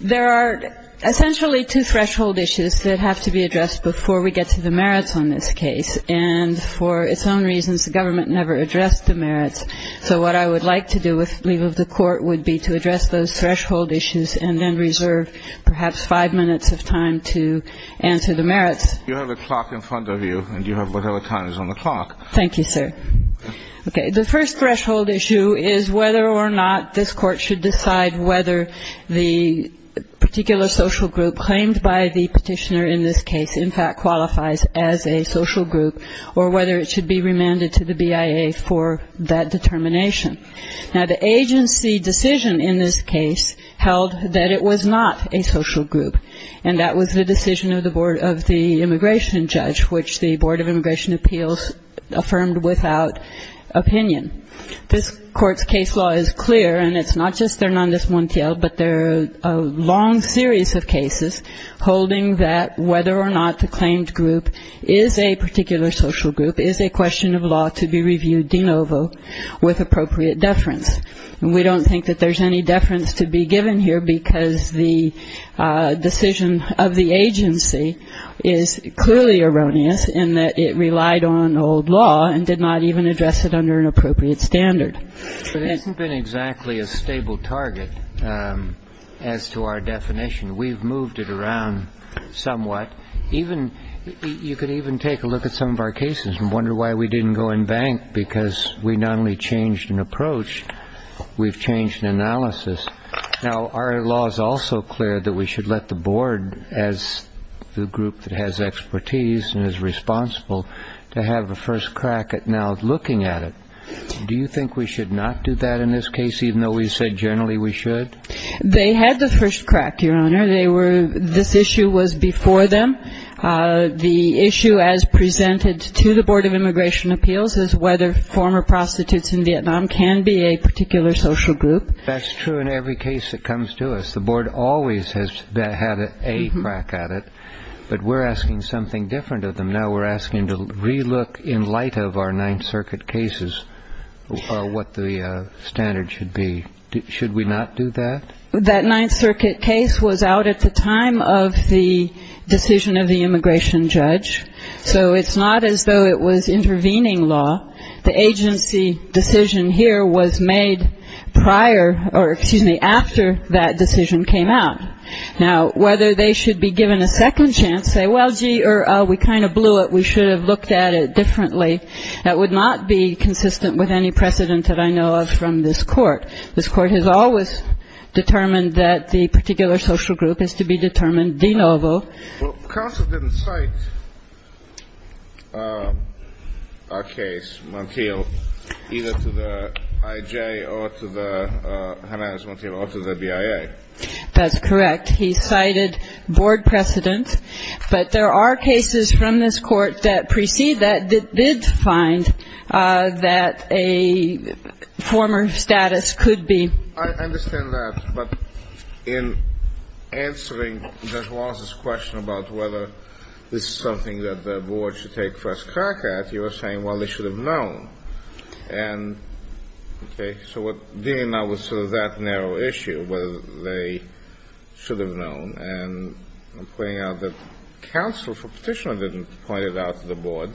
There are essentially two threshold issues that have to be addressed before we get to the merits on this case. And for its own reasons, the government never addressed the merits. So what I would like to do with leave of the court would be to address those threshold issues and then reserve perhaps five minutes of time to answer the merits. The first threshold issue is whether or not this court should decide whether the particular social group claimed by the petitioner in this case in fact qualifies as a social group or whether it should be remanded to the BIA for that determination. Now the agency decision in this case held that it was not a social group. And that was the decision of the board of the immigration judge, which the board of immigration appeals affirmed without opinion. This court's case law is clear, and it's not just Hernandez Montiel, but there are a long series of cases holding that whether or not the claimed group is a particular social group is a question of law to be reviewed de novo with appropriate deference. And we don't think that there's any deference to be given here, because the decision of the agency is clearly erroneous in that it relied on old law and did not even address it under an appropriate standard. It hasn't been exactly a stable target as to our definition. We've moved it around somewhat. You could even take a look at some of our cases and wonder why we didn't go and bank, because we not only changed an approach, we've changed an analysis. Now our law is also clear that we should let the board, as the group that has expertise and is responsible, to have a first crack at now looking at it. Do you think we should not do that in this case, even though we said generally we should? They had the first crack, Your Honor. They were – this issue was before them. The issue as presented to the board of immigration appeals is whether former prostitutes in Vietnam can be a particular social group. That's true in every case that comes to us. The board always has had a crack at it. But we're asking something different of them. Now we're asking to relook in light of our Ninth Circuit cases what the standard should be. Should we not do that? That Ninth Circuit case was out at the time of the decision of the immigration judge. So it's not as though it was intervening law. The agency decision here was made prior – or excuse me – after that decision came out. Now whether they should be given a second chance, say, well, gee, we kind of blew it, we should have looked at it differently, that would not be consistent with any precedent that I know of from this Court. This Court has always determined that the particular social group is to be determined de novo. Well, counsel didn't cite a case, Montiel, either to the I.J. or to the Hernandez-Montiel or to the BIA. That's correct. He cited board precedent. But there are cases from this Court that precede that that did find that a former status could be. I understand that. But in answering Judge Wallace's question about whether this is something that the board should take first crack at, you were saying, well, they should have known. And, okay, so dealing now with sort of that narrow issue, whether they should have known, and I'm pointing out that counsel for petitioner didn't point it out to the board,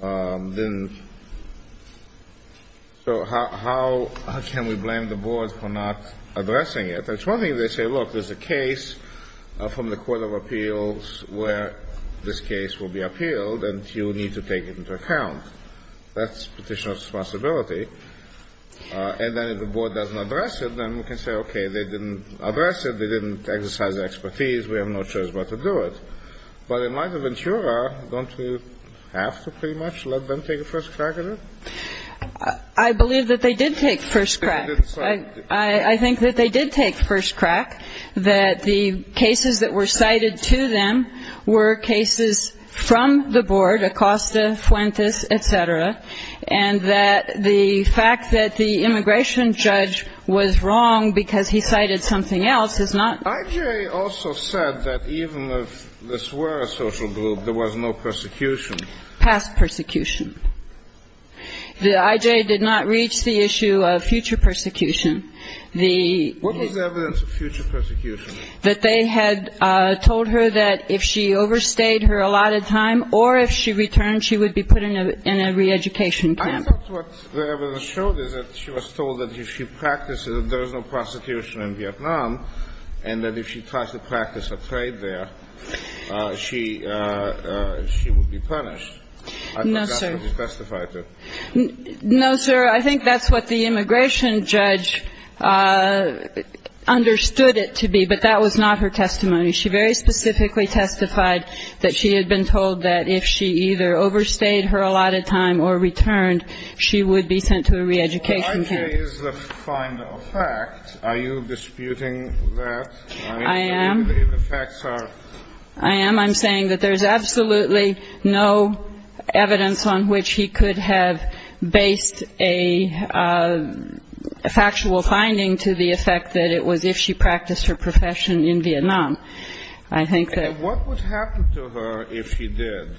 didn't – so how can we blame the board for not addressing it? It's one thing if they say, look, there's a case from the Court of Appeals where this is something that the board should take into account. That's petitioner's responsibility. And then if the board doesn't address it, then we can say, okay, they didn't address it, they didn't exercise their expertise, we have no choice but to do it. But in light of Ventura, don't you have to pretty much let them take a first crack at it? I believe that they did take first crack. I think that they did take first crack, that the cases that were cited to them were cases from the board, Acosta, Fuentes, et cetera, and that the fact that the immigration judge was wrong because he cited something else is not – I.J. also said that even if this were a social group, there was no persecution. Past persecution. The I.J. did not reach the issue of future persecution. What was the evidence of future persecution? That they had told her that if she overstayed her allotted time or if she returned, she would be put in a re-education camp. I thought what the evidence showed is that she was told that if she practices that there is no prostitution in Vietnam and that if she tries to practice a trade there, she would be punished. No, sir. I don't know whether he testified to it. No, sir. I think that's what the immigration judge understood it to be. But that was not her testimony. She very specifically testified that she had been told that if she either overstayed her allotted time or returned, she would be sent to a re-education camp. Well, I.J. is the final fact. Are you disputing that? I am. I mean, the facts are – I am. I'm saying that there's absolutely no evidence on which he could have based a factual finding to the effect that it was if she practiced her profession in Vietnam. I think that. And what would happen to her if she did?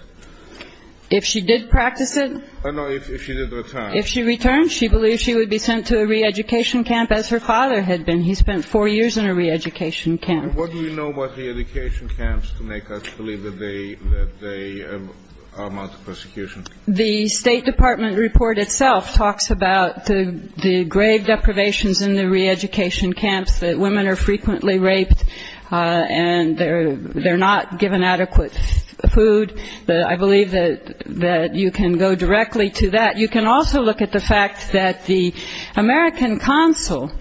If she did practice it? No, if she did return. If she returned, she believed she would be sent to a re-education camp, as her father had been. He spent four years in a re-education camp. And what do we know about the education camps to make us believe that they amount to persecution? The State Department report itself talks about the grave deprivations in the re-education camps, that women are frequently raped, and they're not given adequate food. I believe that you can go directly to that. You can also look at the fact that the American consul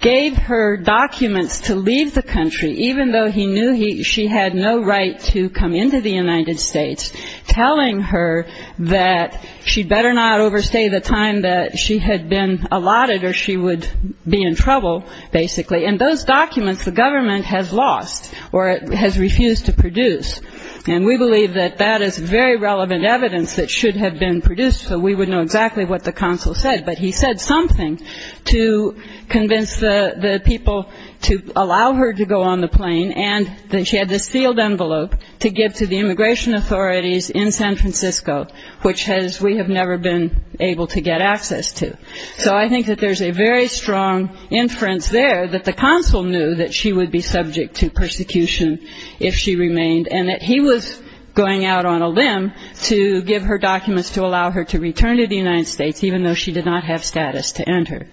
gave her documents to leave the country, even though he knew she had no right to come into the United States, telling her that she better not overstay the time that she had been allotted or she would be in trouble, basically. And those documents the government has lost or has refused to produce. And we believe that that is very relevant evidence that should have been produced so we would know exactly what the consul said. But he said something to convince the people to allow her to go on the plane, and then she had this sealed envelope to give to the immigration authorities in San Francisco, which we have never been able to get access to. So I think that there's a very strong inference there that the consul knew that she would be subject to persecution if she remained, and that he was going out on a limb to give her documents to allow her to return to the United States, even though she did not have status to enter.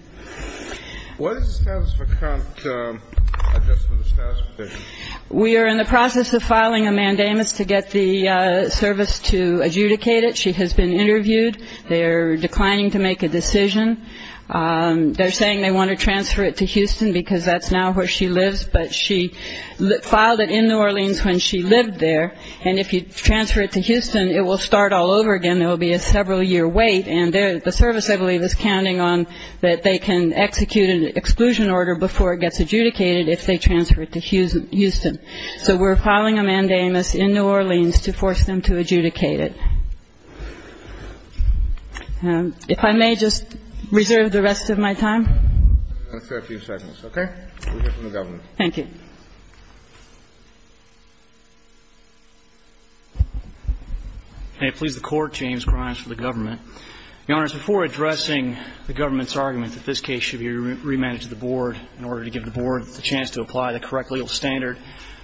What is the status of account adjustment, the status petition? We are in the process of filing a mandamus to get the service to adjudicate it. She has been interviewed. They are declining to make a decision. They're saying they want to transfer it to Houston because that's now where she lives, but she filed it in New Orleans when she lived there. And if you transfer it to Houston, it will start all over again. It will be a several-year wait, and the service, I believe, is counting on that they can execute an exclusion order before it gets adjudicated if they transfer it to Houston. So we're filing a mandamus in New Orleans to force them to adjudicate it. If I may just reserve the rest of my time. Let's do a few seconds, okay? We'll hear from the government. Thank you. May it please the Court, James Grimes for the government. Your Honors, before addressing the government's argument that this case should be remanded to the Board in order to give the Board the chance to apply the correct legal standard,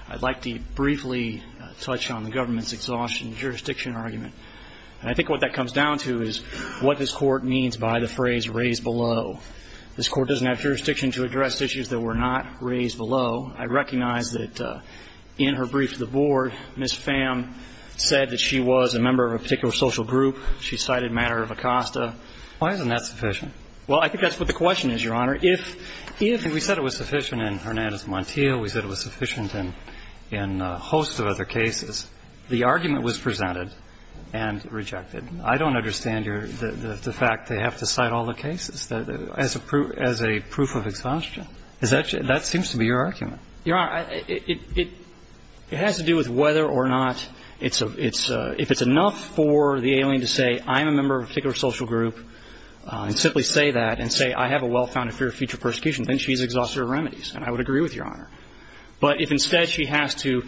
I'd like to briefly touch on the government's exhaustion jurisdiction argument. And I think what that comes down to is what this Court means by the phrase raised below. This Court doesn't have jurisdiction to address issues that were not raised below. I recognize that in her brief to the Board, Ms. Pham said that she was a member of a particular social group. She cited matter of Acosta. Why isn't that sufficient? Well, I think that's what the question is, Your Honor. If we said it was sufficient in Hernandez Montiel, we said it was sufficient in a host of other cases, the argument was presented and rejected. I don't understand the fact they have to cite all the cases as a proof of exhaustion. That seems to be your argument. Your Honor, it has to do with whether or not it's a – if it's enough for the alien to say, I'm a member of a particular social group and simply say that and say, I have a well-founded fear of future persecution, then she's exhausted her remedies. And I would agree with Your Honor. But if instead she has to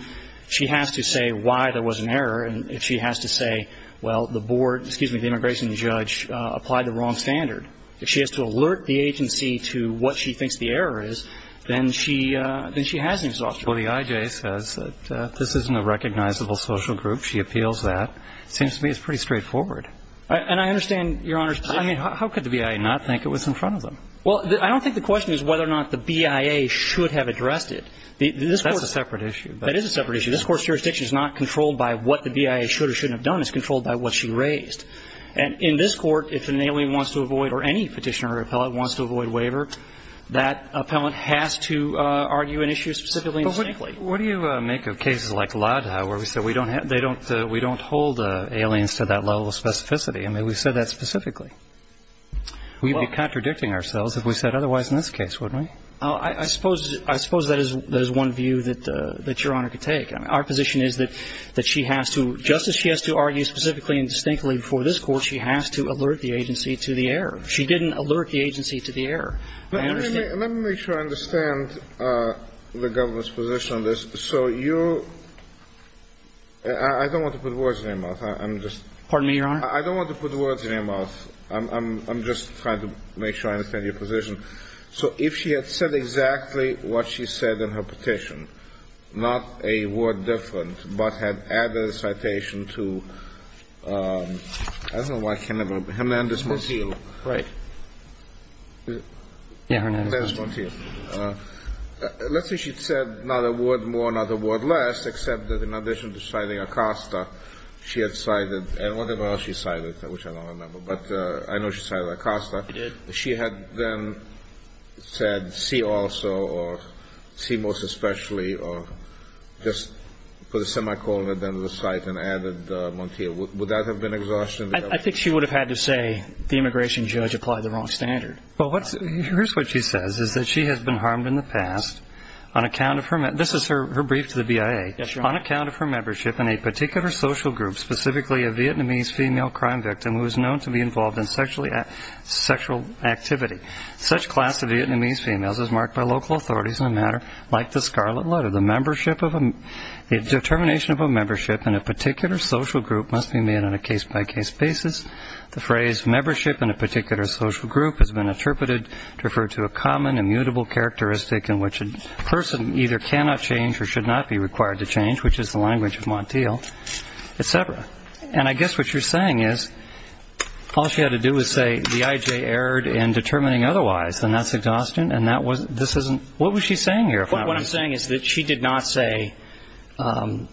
say why there was an error and if she has to say, well, the Board, excuse me, the immigration judge applied the wrong standard, if she has to alert the agency to what she thinks the error is, then she has an exhaustion. Well, the IJ says that this isn't a recognizable social group. She appeals that. It seems to me it's pretty straightforward. And I understand Your Honor's position. I mean, how could the BIA not think it was in front of them? Well, I don't think the question is whether or not the BIA should have addressed it. That's a separate issue. That is a separate issue. This Court's jurisdiction is not controlled by what the BIA should or shouldn't have done. It's controlled by what she raised. And in this Court, if an alien wants to avoid or any petitioner or appellant wants to avoid waiver, that appellant has to argue an issue specifically and distinctly. But what do you make of cases like Lodhi where we said we don't hold aliens to that level of specificity? I mean, we said that specifically. We'd be contradicting ourselves if we said otherwise in this case, wouldn't we? I suppose that is one view that Your Honor could take. Our position is that she has to, just as she has to argue specifically and distinctly before this Court, she has to alert the agency to the error. She didn't alert the agency to the error. I understand. Let me make sure I understand the government's position on this. So you – I don't want to put words in your mouth. I'm just – Pardon me, Your Honor? I don't want to put words in your mouth. I'm just trying to make sure I understand your position. So if she had said exactly what she said in her petition, not a word different, but had added a citation to – I don't know why – Hernandez-Montiel. Right. Yeah, Hernandez-Montiel. Hernandez-Montiel. Let's say she'd said not a word more, not a word less, except that in addition to citing Acosta, she had cited – and whatever else she cited, which I don't remember, but I know she cited Acosta. She did. If she had then said see also or see most especially or just put a semicolon at the end of the cite and added Montiel, would that have been exhaustion? I think she would have had to say the immigration judge applied the wrong standard. Well, here's what she says is that she has been harmed in the past on account of her – this is her brief to the BIA. Yes, Your Honor. On account of her membership in a particular social group, specifically a Vietnamese female crime victim who is known to be involved in sexual activity, such class of Vietnamese females is marked by local authorities in a matter like the Scarlet Letter. The determination of a membership in a particular social group must be made on a case-by-case basis. The phrase membership in a particular social group has been interpreted to refer to a common immutable characteristic in which a person either cannot change or should not be required to change, which is the language of Montiel, et cetera. And I guess what you're saying is all she had to do was say the IJ erred in determining otherwise, and that's exhaustion, and this isn't – what was she saying here, if I remember? What I'm saying is that she did not say the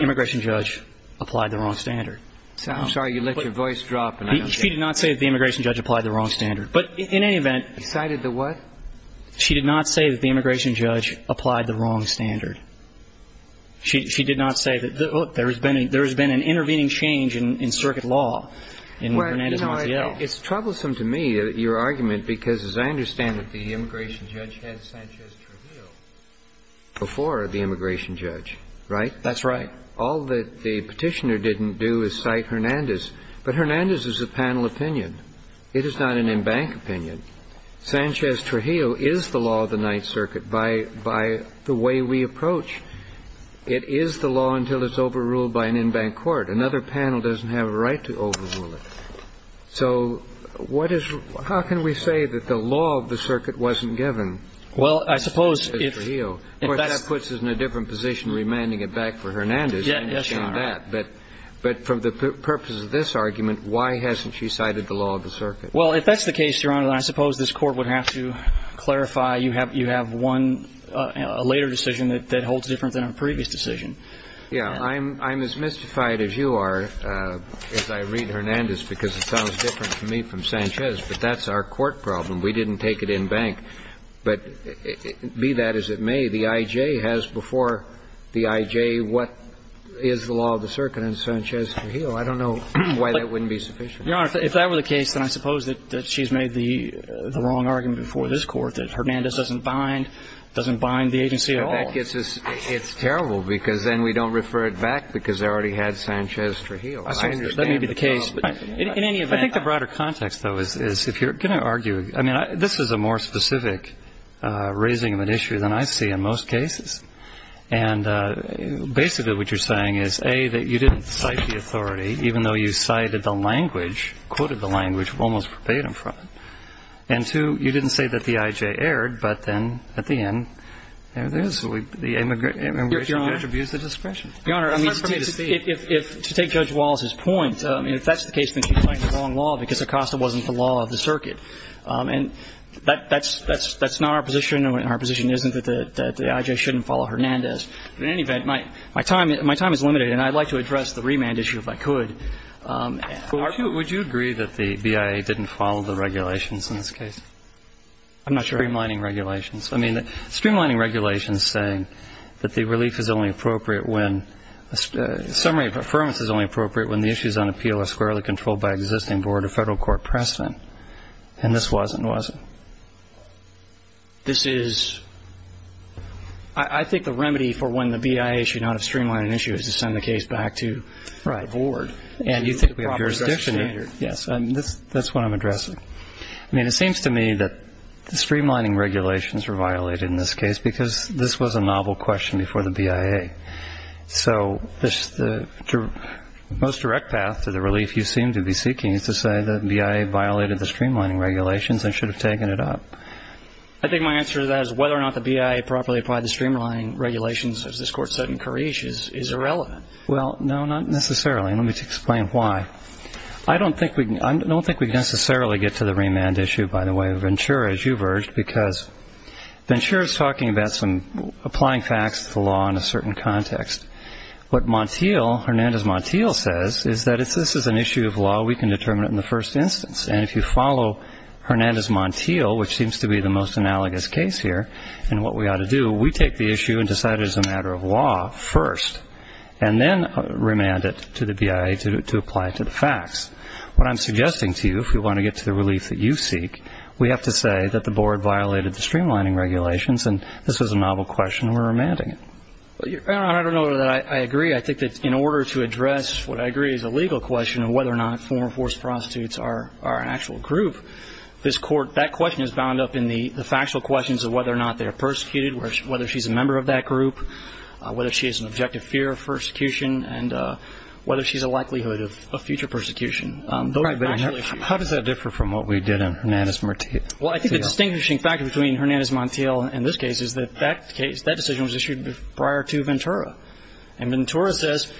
immigration judge applied the wrong standard. I'm sorry. You let your voice drop. She did not say that the immigration judge applied the wrong standard. But in any event – She cited the what? She did not say that the immigration judge applied the wrong standard. She did not say that there has been an intervening change in circuit law in Hernandez-Montiel. Well, you know, it's troublesome to me, your argument, because as I understand it, the immigration judge had Sanchez-Trujillo before the immigration judge, right? That's right. All that the Petitioner didn't do is cite Hernandez. But Hernandez is a panel opinion. It is not an embankment opinion. Sanchez-Trujillo is the law of the Ninth Circuit by the way we approach. It is the law until it's overruled by an embankment court. Another panel doesn't have a right to overrule it. So what is – how can we say that the law of the circuit wasn't given? Well, I suppose if – Sanchez-Trujillo. Of course, that puts us in a different position remanding it back for Hernandez. Yes, Your Honor. But from the purpose of this argument, why hasn't she cited the law of the circuit? Well, if that's the case, Your Honor, then I suppose this Court would have to clarify you have one – a later decision that holds different than a previous decision. Yes. I'm as mystified as you are as I read Hernandez, because it sounds different to me from Sanchez. But that's our court problem. We didn't take it in bank. But be that as it may, the I.J. has before the I.J. what is the law of the circuit in Sanchez-Trujillo. I don't know why that wouldn't be sufficient. Your Honor, if that were the case, then I suppose that she's made the wrong argument before this Court that Hernandez doesn't bind – doesn't bind the agency at all. But that gets us – it's terrible, because then we don't refer it back because they already had Sanchez-Trujillo. I understand the problem. That may be the case. In any event – I think the broader context, though, is if you're going to argue – I mean, this is a more specific raising of an issue than I see in most cases. And basically what you're saying is, A, that you didn't cite the authority, even though you cited the language, quoted the language, almost verbatim from it. And, two, you didn't say that the I.J. erred, but then at the end, there it is. The immigration judge abused the discretion. Your Honor, I mean, to take Judge Wallace's point, if that's the case, then she's making the wrong law, because Acosta wasn't the law of the circuit. And that's not our position, and our position isn't that the I.J. shouldn't follow Hernandez. But in any event, my time is limited, and I'd like to address the remand issue if I could. Would you agree that the BIA didn't follow the regulations in this case? I'm not sure. Streamlining regulations. I mean, streamlining regulations saying that the relief is only appropriate when – summary of affirmance is only appropriate when the issues on appeal are squarely controlled by existing board or federal court precedent. And this wasn't, was it? This is – I think the remedy for when the BIA should not have streamlined an issue is to send the case back to the board. Right. And you think we have jurisdiction here. Yes. That's what I'm addressing. I mean, it seems to me that the streamlining regulations were violated in this case because this was a novel question before the BIA. So the most direct path to the relief you seem to be seeking is to say that BIA violated the streamlining regulations and should have taken it up. I think my answer to that is whether or not the BIA properly applied the Well, no, not necessarily. Let me explain why. I don't think we can – I don't think we can necessarily get to the remand issue, by the way. Ventura, as you've urged, because Ventura's talking about some applying facts to the law in a certain context. What Montiel, Hernandez-Montiel, says is that if this is an issue of law, we can determine it in the first instance. And if you follow Hernandez-Montiel, which seems to be the most analogous case here, and what we ought to do, we take the issue and decide it is a matter of law first, and then remand it to the BIA to apply it to the facts. What I'm suggesting to you, if we want to get to the relief that you seek, we have to say that the board violated the streamlining regulations, and this was a novel question, and we're remanding it. I don't know that I agree. I think that in order to address what I agree is a legal question of whether or not former forced prostitutes are an actual group, this court – that question is bound up in the factual questions of whether or not they're persecuted, whether she's a member of that group, whether she has an objective fear of persecution, and whether she's a likelihood of future persecution. Those are factual issues. How does that differ from what we did on Hernandez-Montiel? Well, I think the distinguishing factor between Hernandez-Montiel and this case is that that decision was issued prior to Ventura. And Ventura says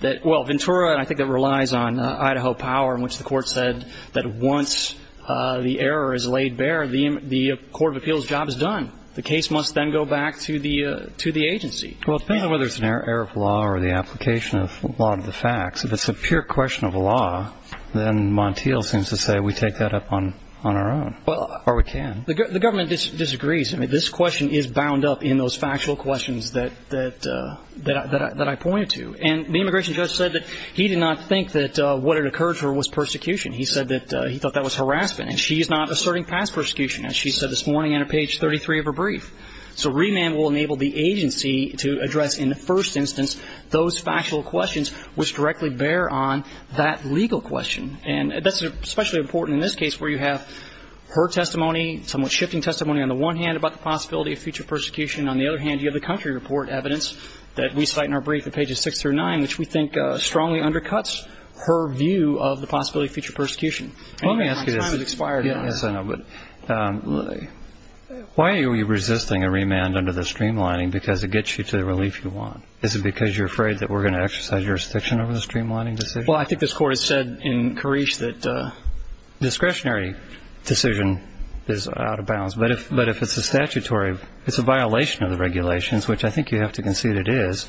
that – well, Ventura, and I think it relies on Idaho power, in which the court said that once the error is laid bare, the court of appeals job is done. The case must then go back to the agency. Well, depending on whether it's an error of law or the application of law to the facts, if it's a pure question of law, then Montiel seems to say we take that up on our own, or we can. The government disagrees. I mean, this question is bound up in those factual questions that I pointed to. And the immigration judge said that he did not think that what it occurred to her was persecution. He said that he thought that was harassment, and she is not asserting past persecution. As she said this morning on page 33 of her brief. So remand will enable the agency to address in the first instance those factual questions which directly bear on that legal question. And that's especially important in this case where you have her testimony, somewhat shifting testimony on the one hand about the possibility of future persecution. On the other hand, you have the country report evidence that we cite in our brief at pages 6 through 9, which we think strongly undercuts her view of the possibility of future persecution. Let me ask you this. My time has expired. Yes, I know. But why are we resisting a remand under the streamlining? Because it gets you to the relief you want. Is it because you're afraid that we're going to exercise jurisdiction over the streamlining decision? Well, I think this Court has said in Carice that discretionary decision is out of bounds. But if it's a statutory, it's a violation of the regulations, which I think you have to concede it is,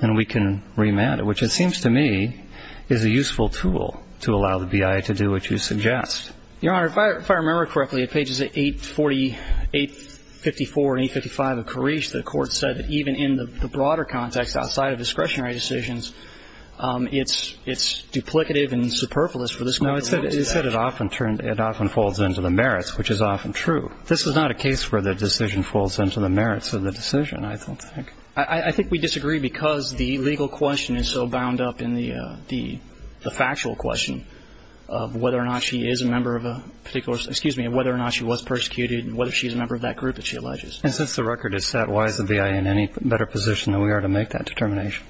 then we can remand it, which it seems to me is a useful tool to allow the BIA to do what you suggest. Your Honor, if I remember correctly, at pages 848, 854, and 855 of Carice, the Court said that even in the broader context outside of discretionary decisions, it's duplicative and superfluous for this Court to do that. No, it said it often turns into the merits, which is often true. This is not a case where the decision falls into the merits of the decision, I don't think. I think we disagree because the legal question is so bound up in the factual question of whether or not she is a member of a particular, excuse me, whether or not she was persecuted and whether she's a member of that group that she alleges. And since the record is set, why is the BIA in any better position than we are to make that determination?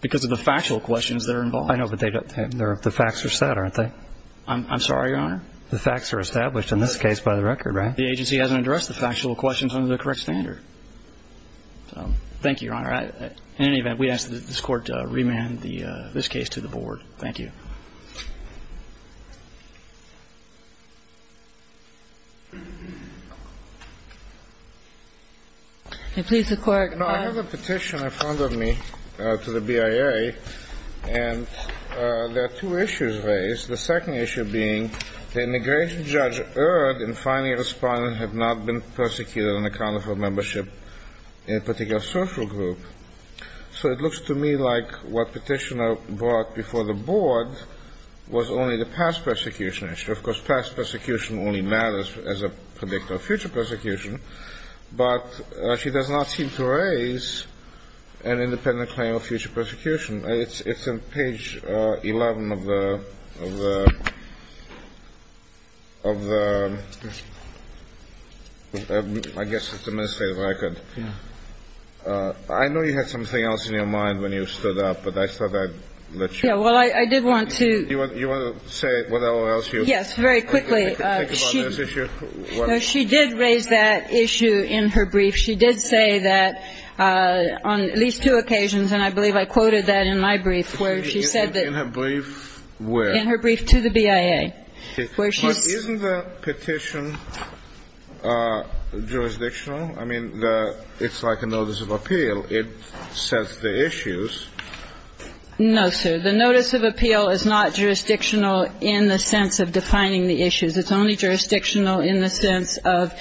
Because of the factual questions that are involved. I know, but the facts are set, aren't they? I'm sorry, Your Honor? The facts are established in this case by the record, right? The agency hasn't addressed the factual questions under the correct standard. Thank you, Your Honor. In any event, we ask that this Court remand this case to the Board. Thank you. Please, the Court. No, I have a petition in front of me to the BIA, and there are two issues raised, the second issue being the immigration judge erred in finding a respondent had not been persecuted on account of her membership in a particular social group. So it looks to me like what Petitioner brought before the Board was only the past persecution issue. Of course, past persecution only matters as a predictor of future persecution, but she does not seem to raise an independent claim of future persecution. It's on page 11 of the, of the, I guess it's administrative record. Yeah. I know you had something else in your mind when you stood up, but I thought I'd let you. Yeah, well, I did want to. You want to say whatever else you. Yes, very quickly. Think about this issue. She did raise that issue in her brief. She did say that on at least two occasions, and I believe I quoted that in my brief, where she said that. In her brief where? In her brief to the BIA. Isn't the petition jurisdictional? I mean, it's like a notice of appeal. It sets the issues. No, sir. The notice of appeal is not jurisdictional in the sense of defining the issues. It's only jurisdictional in the sense of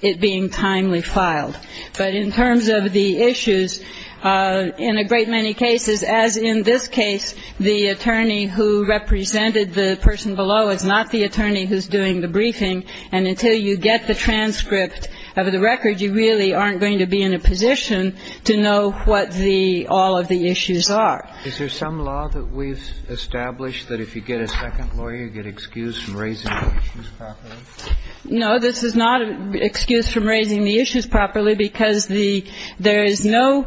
it being timely filed. But in terms of the issues, in a great many cases, as in this case, the attorney who represented the person below is not the attorney who's doing the briefing. And until you get the transcript of the record, you really aren't going to be in a position to know what the, all of the issues are. Is there some law that we've established that if you get a second lawyer, you get excused from raising the issues properly? No. This is not an excuse from raising the issues properly because there is no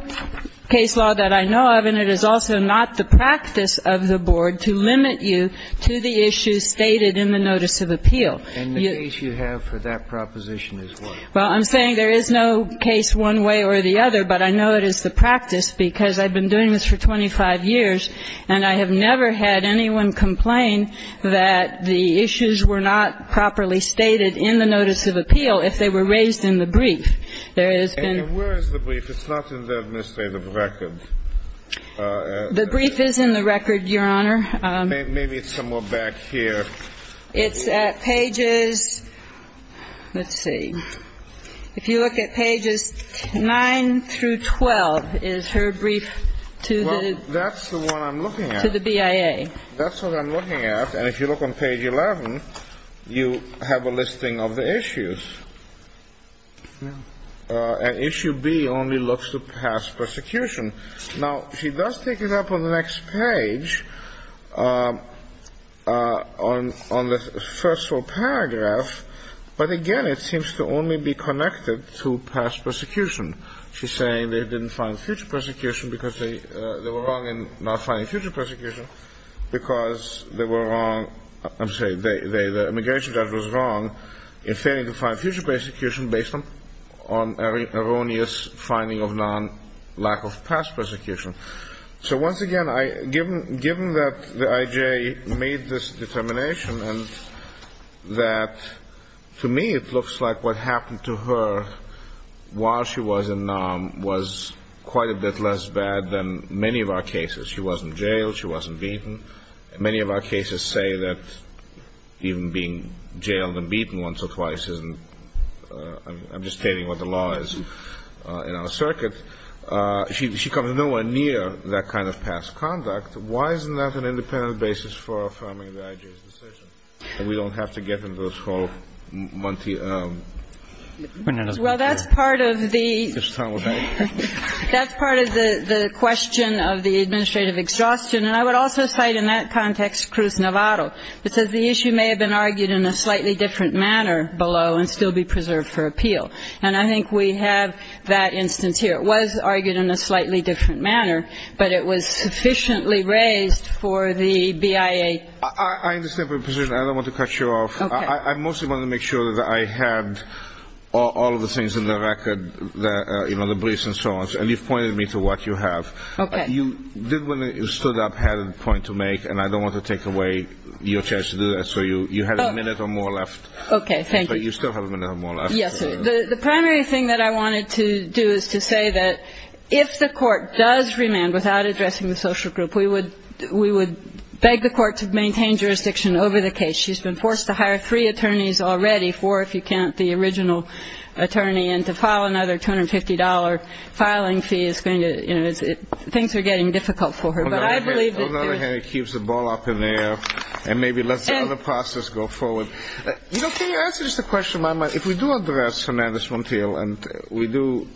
case law that I know of, and it is also not the practice of the board to limit you to the issues stated in the notice of appeal. And the case you have for that proposition is what? Well, I'm saying there is no case one way or the other, but I know it is the practice because I've been doing this for 25 years, and I have never had anyone complain that the issues were not properly stated in the notice of appeal if they were raised in the brief. There has been ---- And where is the brief? It's not in the administrative record. The brief is in the record, Your Honor. Maybe it's somewhere back here. It's at pages ---- let's see. If you look at pages 9 through 12 is her brief to the ---- Well, that's the one I'm looking at. To the BIA. That's what I'm looking at. And if you look on page 11, you have a listing of the issues. And issue B only looks to pass persecution. Now, she does take it up on the next page on the first full paragraph, but again, it seems to only be connected to past persecution. She's saying they didn't find future persecution because they were wrong in not finding future persecution because they were wrong, I'm sorry, the immigration judge was wrong in failing to find future persecution based on erroneous finding of non-lack of past persecution. So once again, given that the I.J. made this determination and that to me it looks like what happened to her while she was in NAM was quite a bit less bad than many of our cases. She wasn't jailed. She wasn't beaten. Many of our cases say that even being jailed and beaten once or twice isn't ---- I'm just stating what the law is in our circuit. She comes nowhere near that kind of past conduct. Why isn't that an independent basis for affirming the I.J.'s decision that we don't have to get into this whole Monty ---- Well, that's part of the question of the administrative exhaustion. And I would also cite in that context Cruz-Navarro, because the issue may have been argued in a slightly different manner below and still be preserved for appeal. And I think we have that instance here. It was argued in a slightly different manner, but it was sufficiently raised for the BIA. I understand your position. I don't want to cut you off. Okay. I mostly wanted to make sure that I had all of the things in the record, you know, the briefs and so on. And you've pointed me to what you have. Okay. You did when you stood up had a point to make, and I don't want to take away your chance to do that. So you had a minute or more left. Okay. Thank you. But you still have a minute or more left. Yes, sir. The primary thing that I wanted to do is to say that if the court does remand without addressing the social group, we would beg the court to maintain jurisdiction over the case. She's been forced to hire three attorneys already, four if you count the original attorney, and to file another $250 filing fee is going to, you know, things are getting difficult for her. On the other hand, it keeps the ball up in the air and maybe lets the other process go forward. You know, can you answer just a question of my mind? If we do address Hernandez-Montiel and we do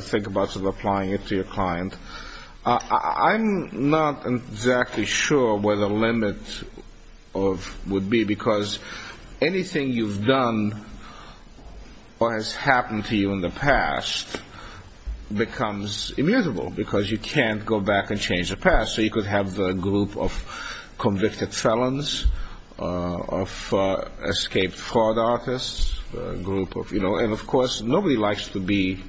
think about applying it to your client, I'm not exactly sure where the limit would be because anything you've done or has happened to you in the past becomes immutable because you can't go back and change the past. So you could have a group of convicted felons, of escaped fraud artists, a group of, you know. And, of course, nobody likes to be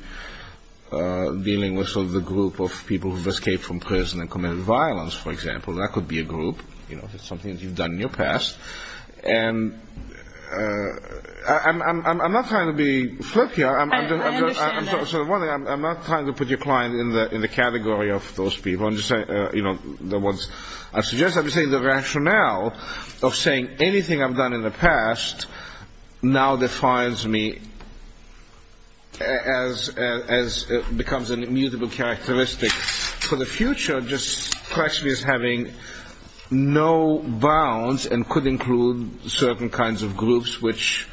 dealing with sort of the group of people who've escaped from prison and committed violence, for example. That could be a group, you know, if it's something that you've done in your past. And I'm not trying to be flirty. I understand that. So one thing, I'm not trying to put your client in the category of those people. I'm just saying, you know, the ones I suggest. I'm just saying the rationale of saying anything I've done in the past now defines me as it becomes an immutable characteristic. For the future, just question is having no bounds and could include certain kinds of groups which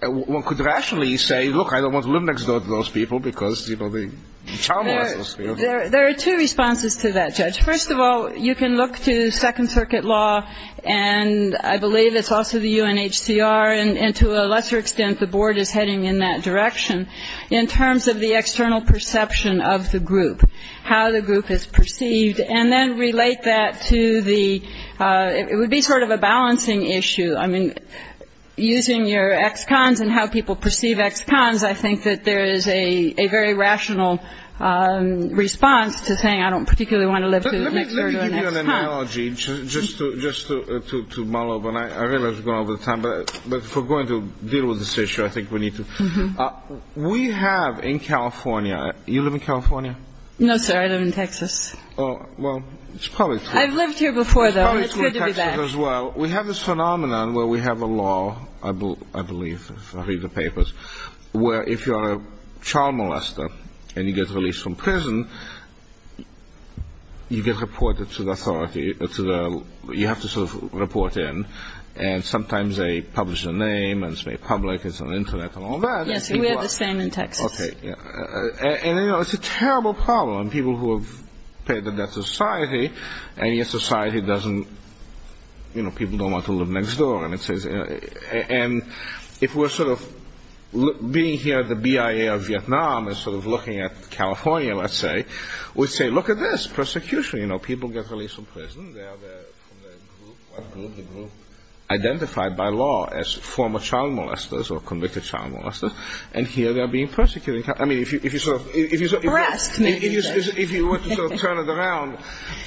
one could rationally say, look, I don't want to live next door to those people because, you know, the child molesters. There are two responses to that, Judge. First of all, you can look to Second Circuit law, and I believe it's also the UNHCR, and to a lesser extent the board is heading in that direction in terms of the external perception of the group, how the group is perceived, and then relate that to the ‑‑ it would be sort of a balancing issue. I mean, using your ex‑cons and how people perceive ex‑cons, I think that there is a very rational response to saying, I don't particularly want to live next door to an ex‑con. Let me give you an analogy just to mull over, and I realize we're going over time, but if we're going to deal with this issue, I think we need to. We have in California, you live in California? No, sir, I live in Texas. Well, it's probably true. I've lived here before, though, and it's good to be back. Well, we have this phenomenon where we have a law, I believe, if I read the papers, where if you're a child molester and you get released from prison, you get reported to the authority, you have to sort of report in, and sometimes they publish your name, and it's made public, it's on the Internet and all that. Yes, we have the same in Texas. And, you know, it's a terrible problem. People who have paid the debt to society, and yet society doesn't, you know, people don't want to live next door. And if we're sort of being here, the BIA of Vietnam is sort of looking at California, let's say, we say, look at this, persecution, you know, people get released from prison, they are from the group, white group, the group identified by law as former child molesters or convicted child molesters, and here they are being persecuted. I mean, if you sort of – Harassed. If you were to sort of turn it around.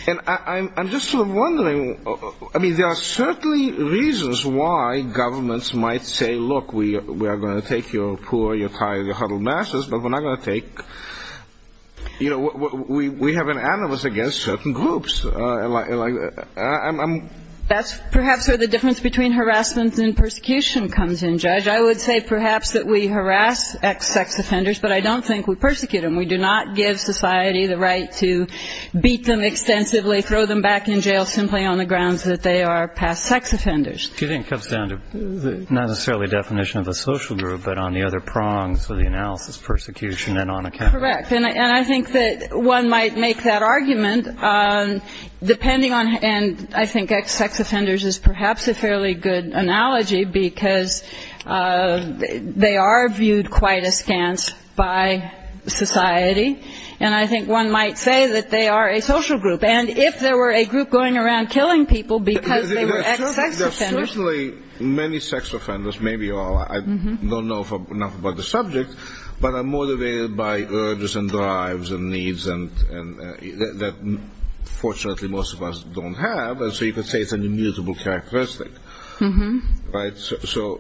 And I'm just sort of wondering, I mean, there are certainly reasons why governments might say, look, we are going to take your poor, your tired, your huddled masses, but we're not going to take, you know, we have an animus against certain groups. That's perhaps where the difference between harassment and persecution comes in, Judge. I would say perhaps that we harass ex-sex offenders, but I don't think we persecute them. We do not give society the right to beat them extensively, throw them back in jail simply on the grounds that they are past sex offenders. Do you think it comes down to not necessarily a definition of a social group, but on the other prongs of the analysis, persecution and on account? Correct. And I think that one might make that argument, depending on, And I think ex-sex offenders is perhaps a fairly good analogy, because they are viewed quite askance by society. And I think one might say that they are a social group. And if there were a group going around killing people because they were ex-sex offenders – There are certainly many sex offenders, maybe all. I don't know enough about the subject, but I'm motivated by urges and drives and needs that fortunately most of us don't have. And so you could say it's an immutable characteristic. So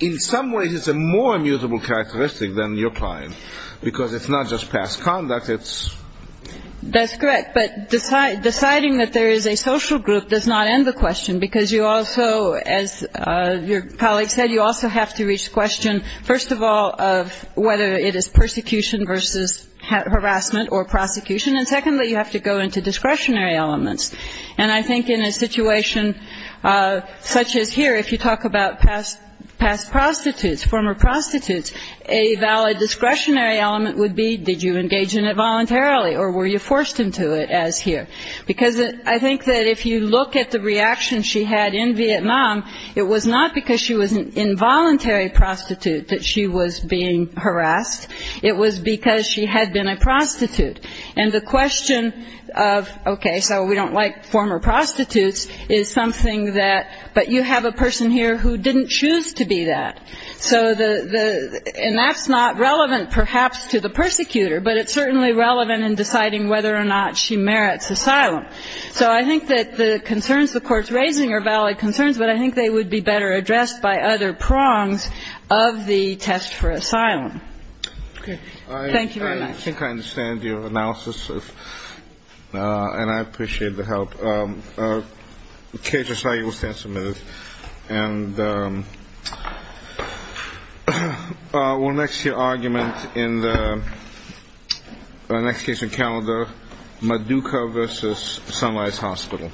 in some ways it's a more immutable characteristic than your client, because it's not just past conduct, it's – That's correct. But deciding that there is a social group does not end the question, because you also, as your colleague said, you also have to reach the question, first of all, of whether it is persecution versus harassment or prosecution. And secondly, you have to go into discretionary elements. And I think in a situation such as here, if you talk about past prostitutes, former prostitutes, a valid discretionary element would be did you engage in it voluntarily or were you forced into it as here. Because I think that if you look at the reaction she had in Vietnam, it was not because she was an involuntary prostitute that she was being harassed. It was because she had been a prostitute. And the question of, okay, so we don't like former prostitutes, is something that, but you have a person here who didn't choose to be that. So the – and that's not relevant perhaps to the persecutor, but it's certainly relevant in deciding whether or not she merits asylum. So I think that the concerns the Court's raising are valid concerns, but I think they would be better addressed by other prongs of the test for asylum. Okay. Thank you very much. I think I understand your analysis, and I appreciate the help. KHSI, you will stand submitted. And we'll next hear argument in the next case on calendar, Maduka v. Sunrise Hospital.